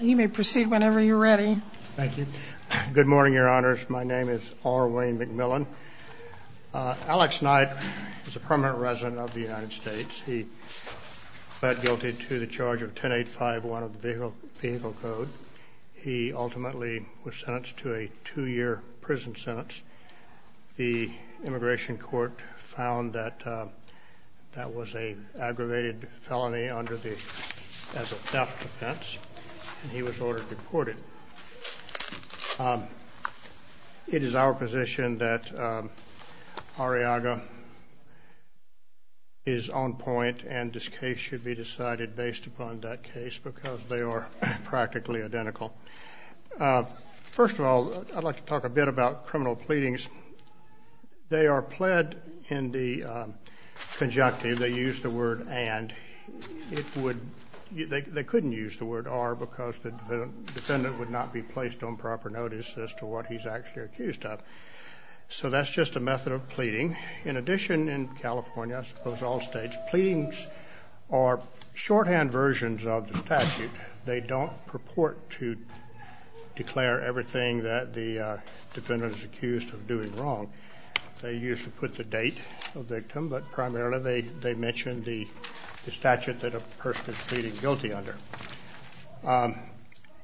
You may proceed whenever you're ready. Thank you. Good morning, your honors. My name is R. Wayne McMillan. Alex Knight is a permanent resident of the United States. He pled guilty to the charge of 10851 of the Vehicle Code. He ultimately was sentenced to a two-year prison sentence. The Immigration Court found that that was an aggravated felony under the, as a theft offense, and he was ordered to be courted. It is our position that Arriaga is on point, and this case should be decided based upon that case because they are practically identical. First of all, I'd like to talk a bit about criminal pleadings. They are pled in the conjunctive. They use the word, and, it would, they couldn't use the word are because the defendant would not be placed on proper notice as to what he's actually accused of. So that's just a method of pleading. In addition, in California, I suppose all states, pleadings are shorthand versions of the statute. They don't purport to declare everything that the defendant is accused of doing wrong. They usually put the date of the victim, but primarily, they mention the statute that a person is pleading guilty under.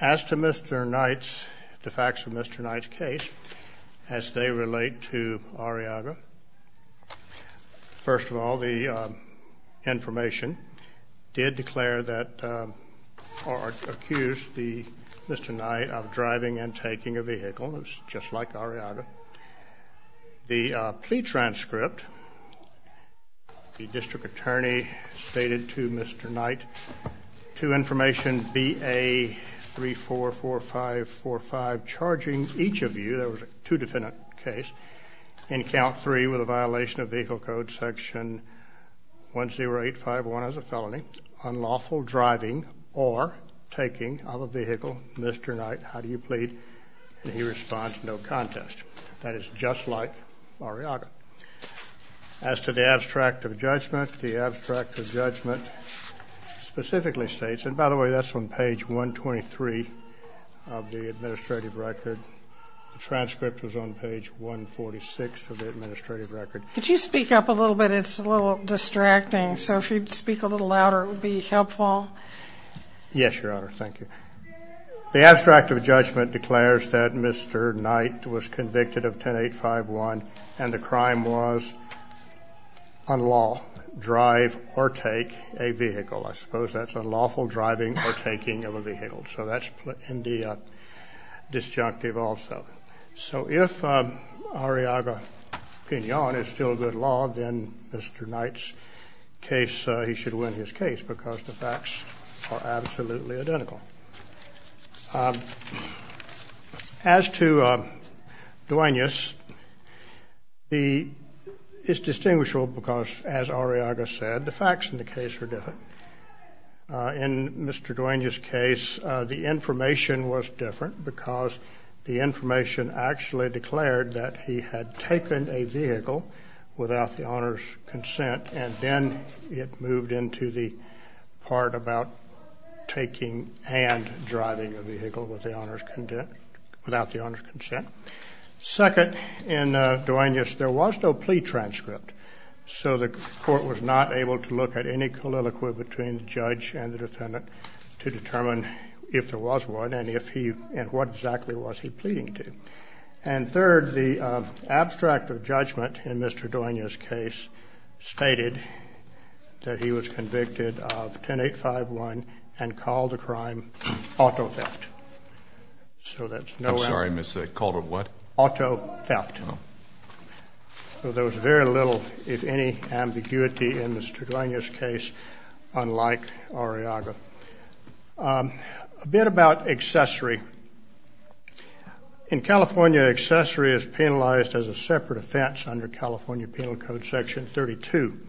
As to Mr. Knight's, the facts of Mr. Knight's case, as they relate to Arriaga, first of all, the information did declare that, or accused Mr. Knight of driving and taking a vehicle, just like Arriaga. The plea transcript, the district attorney stated to Mr. Knight, to information BA 344545, charging each of you, there was two defendant case, in count three with a violation of vehicle code section 10851 as a felony, unlawful driving or taking of a vehicle, Mr. Knight, how do you plead? And he responds, no contest. That is just like Arriaga. As to the abstract of judgment, the abstract of judgment specifically states, and by the way, that's on page 123 of the administrative record. The transcript was on page 146 of the administrative record. Could you speak up a little bit? It's a little distracting. So if you'd speak a little louder, it would be helpful. Yes, Your Honor. Thank you. The abstract of judgment declares that Mr. Knight was convicted of 10851, and the crime was unlawful drive or take a vehicle. I suppose that's unlawful driving or taking of a vehicle. So that's in the disjunctive also. So if Arriaga opinion is still good law, then Mr. Knight's case, he should win his case, because the facts are absolutely identical. As to Duenas, it's distinguishable because, as Arriaga said, the facts in the case are different. In Mr. Duenas' case, the information was different because the information actually declared that he had taken a vehicle without the owner's consent, and then it moved into the part about taking and driving a vehicle without the owner's consent. Second, in Duenas, there was no plea transcript, so the court was not able to look at any colloquia between the judge and the defendant to determine if there was one and what exactly was he pleading to. And third, the abstract of judgment in Mr. Duenas' case stated that he was convicted of 10-8-5-1 and called the crime auto theft. So that's no- I'm sorry, Mr. Knight. Called it what? Auto theft. Oh. So there was very little, if any, ambiguity in Mr. Duenas' case, unlike Arriaga. A bit about accessory. In California, accessory is penalized as a separate offense under California Penal Code Section 32.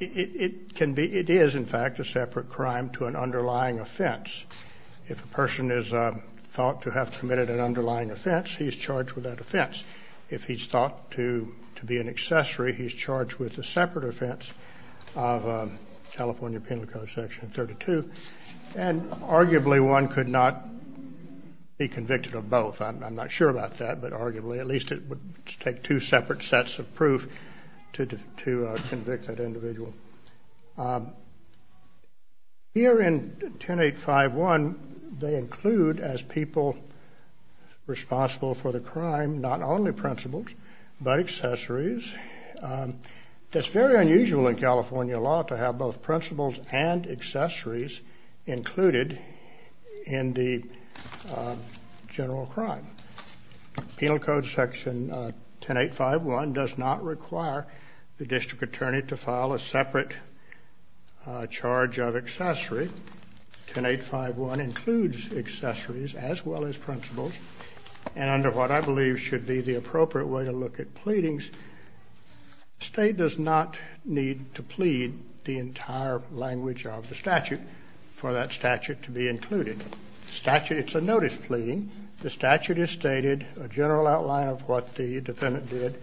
It can be, it is, in fact, a separate crime to an underlying offense. If a person is thought to have committed an underlying offense, he's charged with that offense. If he's thought to be an accessory, he's charged with a separate offense of California Penal Code Section 32. And arguably, one could not be convicted of both. I'm not sure about that, but arguably, at least it would take two separate sections or sets of proof to convict that individual. Here in 10-8-5-1, they include, as people responsible for the crime, not only principles, but accessories. That's very unusual in California law to have both principles and accessories included in the general crime. Penal Code Section 10-8-5-1 does not require the district attorney to file a separate charge of accessory. 10-8-5-1 includes accessories as well as principles. And under what I believe should be the appropriate way to look at pleadings, state does not need to plead the entire language of the statute for that statute to be included. Statute, it's a notice pleading. The statute is stated, a general outline of what the defendant did,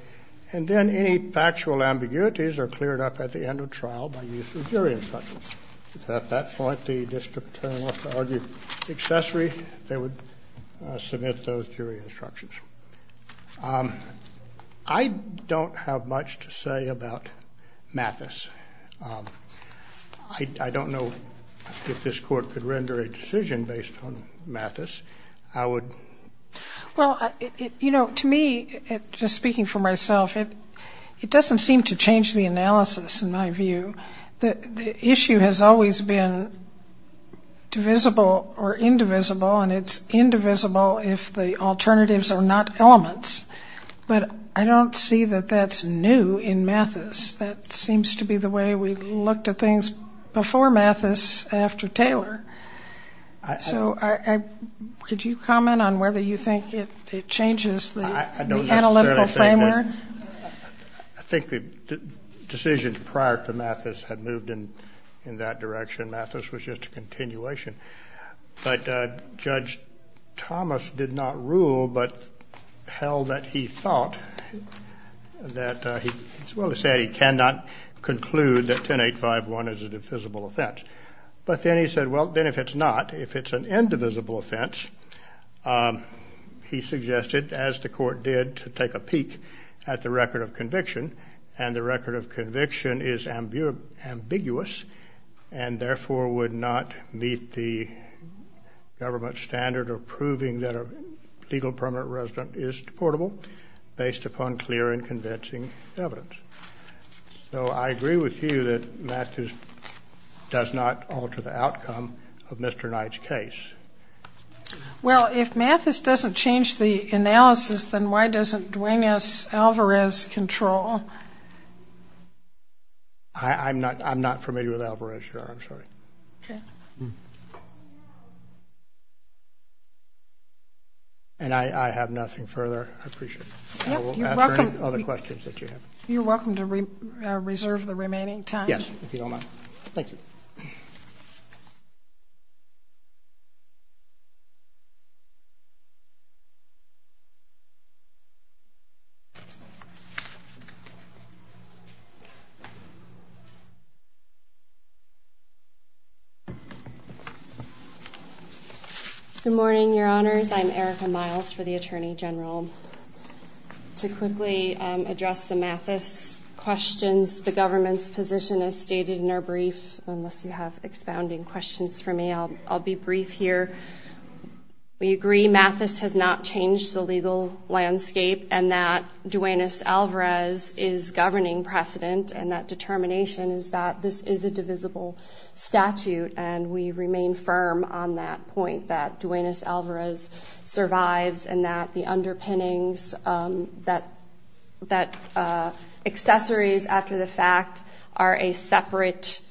and then any factual ambiguities are cleared up at the end of trial by use of jury instructions. At that point, the district attorney will have to argue accessory. They would submit those jury instructions. I don't have much to say about Mathis. I don't know if this Court could render a decision based on Mathis. I would. Well, you know, to me, just speaking for myself, it doesn't seem to change the analysis in my view. The issue has always been divisible or indivisible, and it's indivisible if the alternatives are not elements. But I don't see that that's new in Mathis. That seems to be the way we looked at things before Mathis, after Taylor. So could you comment on whether you think it changes the analytical framework? I think the decisions prior to Mathis had moved in that direction. Mathis was just a continuation. But Judge Thomas did not rule, but held that he thought that he, as well as he said, he cannot conclude that 10.851 is a divisible offense. But then he said, well, then if it's not, if it's an indivisible offense, he suggested, as the Court did, to take a peek at the record of conviction. And the record of conviction is ambiguous and therefore would not meet the government standard of proving that a legal permanent resident is deportable based upon clear and convincing evidence. So I agree with you that Mathis does not alter the outcome of Mr. Knight's case. Well, if Mathis doesn't change the analysis, then why doesn't Duane S. Alvarez control? I'm not familiar with Alvarez, Your Honor. I'm sorry. And I have nothing further. I appreciate it. I will answer any other questions that you have. You're welcome to reserve the remaining time. Yes, if you don't mind. Thank you. Good morning, Your Honors. I'm Erica Miles for the Attorney General. To quickly address the Mathis questions, the government's position is stated in our brief. Unless you have expounding questions for me, I'll be brief here. We agree Mathis has not changed the legal landscape and that Duane S. Alvarez is governing precedent. And that determination is that this is a divisible statute. And we remain firm on that point that Duane S. Alvarez survives and that the underpinnings, that accessories after the fact are a separate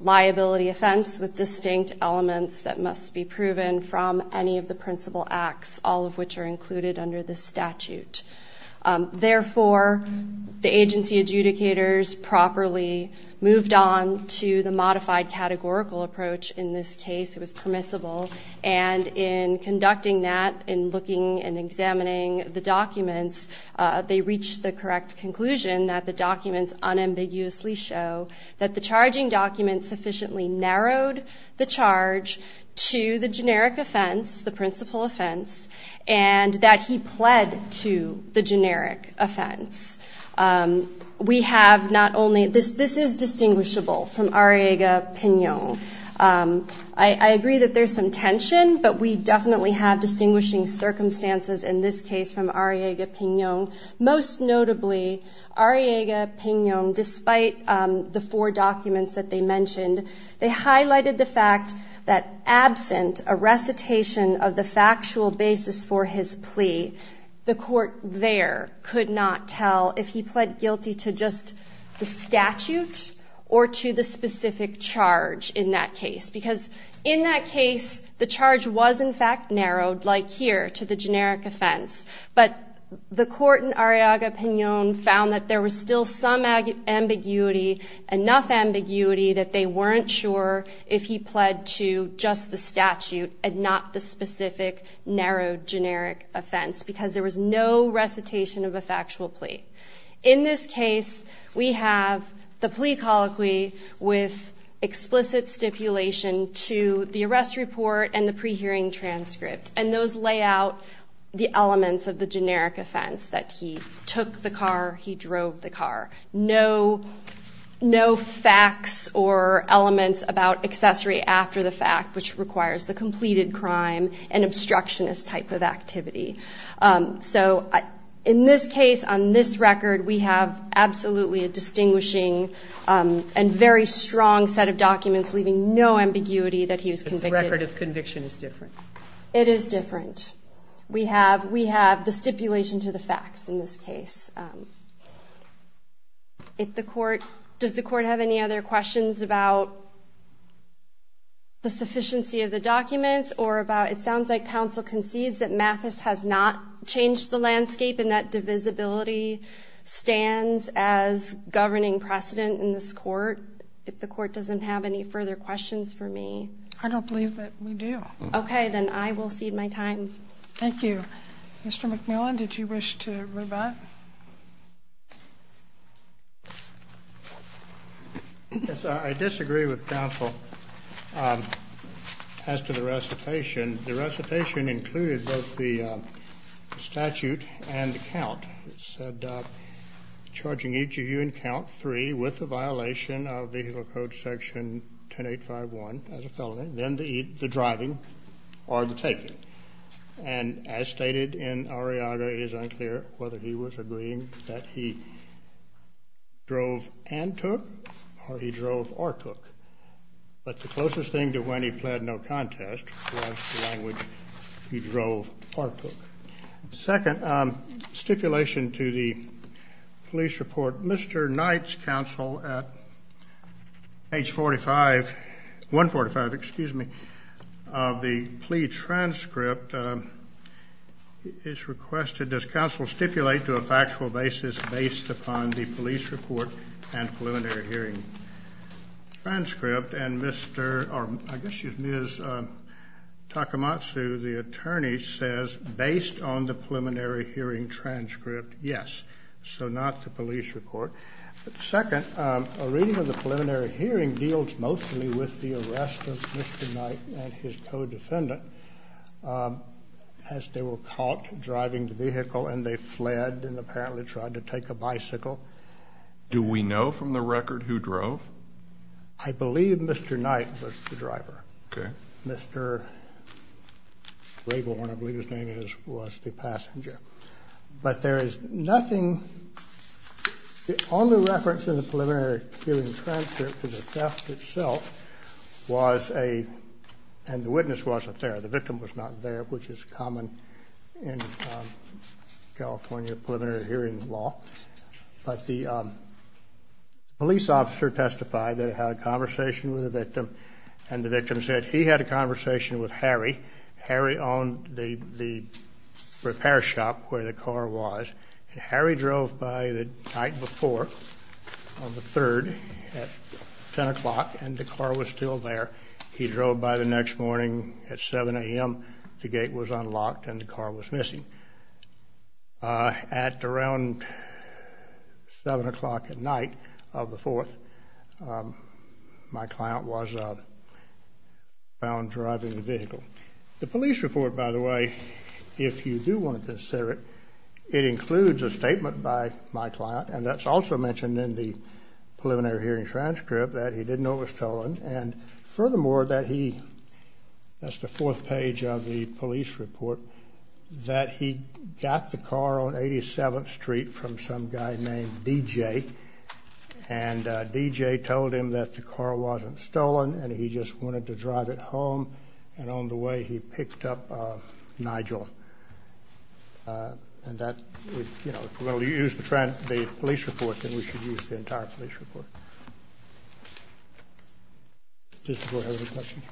liability offense with distinct elements that must be proven from any of the principal acts, all of which are included under the statute. Therefore, the agency adjudicators properly moved on to the modified categorical approach. In this case, it was permissible. And in conducting that, in looking and examining the documents, they reached the correct conclusion that the documents unambiguously show that the charging document sufficiently narrowed the charge to the generic offense, the principal offense, and that he pled to the generic offense. We have not only this, this is distinguishable from Arriaga-Piñon. I agree that there's some tension, but we definitely have distinguishing circumstances in this case from Arriaga-Piñon. Most notably, Arriaga-Piñon, despite the four documents that they mentioned, they highlighted the fact that absent a recitation of the factual basis for his plea, the court there could not tell if he pled guilty to just the statute or to the specific charge in that case. Because in that case, the charge was in fact narrowed, like here, to the generic offense. But the court in Arriaga-Piñon found that there was still some ambiguity, enough ambiguity that they weren't sure if he pled to just the statute and not the specific narrowed generic offense because there was no recitation of a factual plea. In this case, we have the plea colloquy with explicit stipulation to the arrest report and the pre-hearing transcript. And those lay out the elements of the generic offense, that he took the car, he drove the car. No facts or elements about accessory after the fact, which requires the completed crime and obstructionist type of activity. So in this case, on this record, we have absolutely a distinguishing and very strong set of evidence. The record of conviction is different. It is different. We have the stipulation to the facts in this case. If the court – does the court have any other questions about the sufficiency of the documents or about – it sounds like counsel concedes that Mathis has not changed the landscape and that divisibility stands as governing precedent in this court. If the court doesn't have any further questions for me. I don't believe that we do. Okay. Then I will cede my time. Thank you. Mr. McMillan, did you wish to rebut? I disagree with counsel as to the recitation. The recitation included both the statute and the count. It said, charging each of you in count three with a violation of vehicle code section 10851 as a felony, then the driving or the taking. And as stated in Arriaga, it is unclear whether he was agreeing that he drove and took or he drove or took. But the closest thing to when he pled no contest was the language, he drove or took. Second, stipulation to the police report. Mr. Knight's counsel at age 45 – 145, excuse me – of the plea transcript is requested. Does counsel stipulate to a factual basis based upon the police report and preliminary hearing transcript? And Mr. – or I guess Based on the preliminary hearing transcript, yes. So not the police report. Second, a reading of the preliminary hearing deals mostly with the arrest of Mr. Knight and his co-defendant as they were caught driving the vehicle and they fled and apparently tried to take a bicycle. Do we know from the record who drove? I believe Mr. Knight was the driver. Okay. Mr. Rable, I believe his name was, was the passenger. But there is nothing – the only reference in the preliminary hearing transcript to the theft itself was a – and the witness wasn't there. The victim was not there, which is common in California preliminary hearing law. But the police officer testified that he had a conversation with the victim and the victim said he had a conversation with Harry. Harry owned the repair shop where the car was. And Harry drove by the night before on the 3rd at 10 o'clock and the car was still there. He drove by the next morning at 7 a.m. The gate was unlocked and the car was missing. At around 7 o'clock at night of the 4th, my client was found driving the vehicle. The police report, by the way, if you do want to consider it, it includes a statement by my client and that's also mentioned in the preliminary hearing transcript that he didn't know it was stolen and furthermore that he – that's the 4th page of the police report – that he got the car on 87th Street from some guy named DJ and DJ told him that the car wasn't stolen and he just wanted to drive it home and on the way he picked up Nigel. And that, you know, if we're the entire police report. Does the Board have any questions?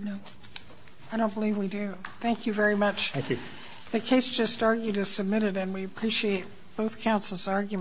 No. I don't believe we do. Thank you very much. Thank you. The case just argued is submitted and we appreciate both counsel's arguments.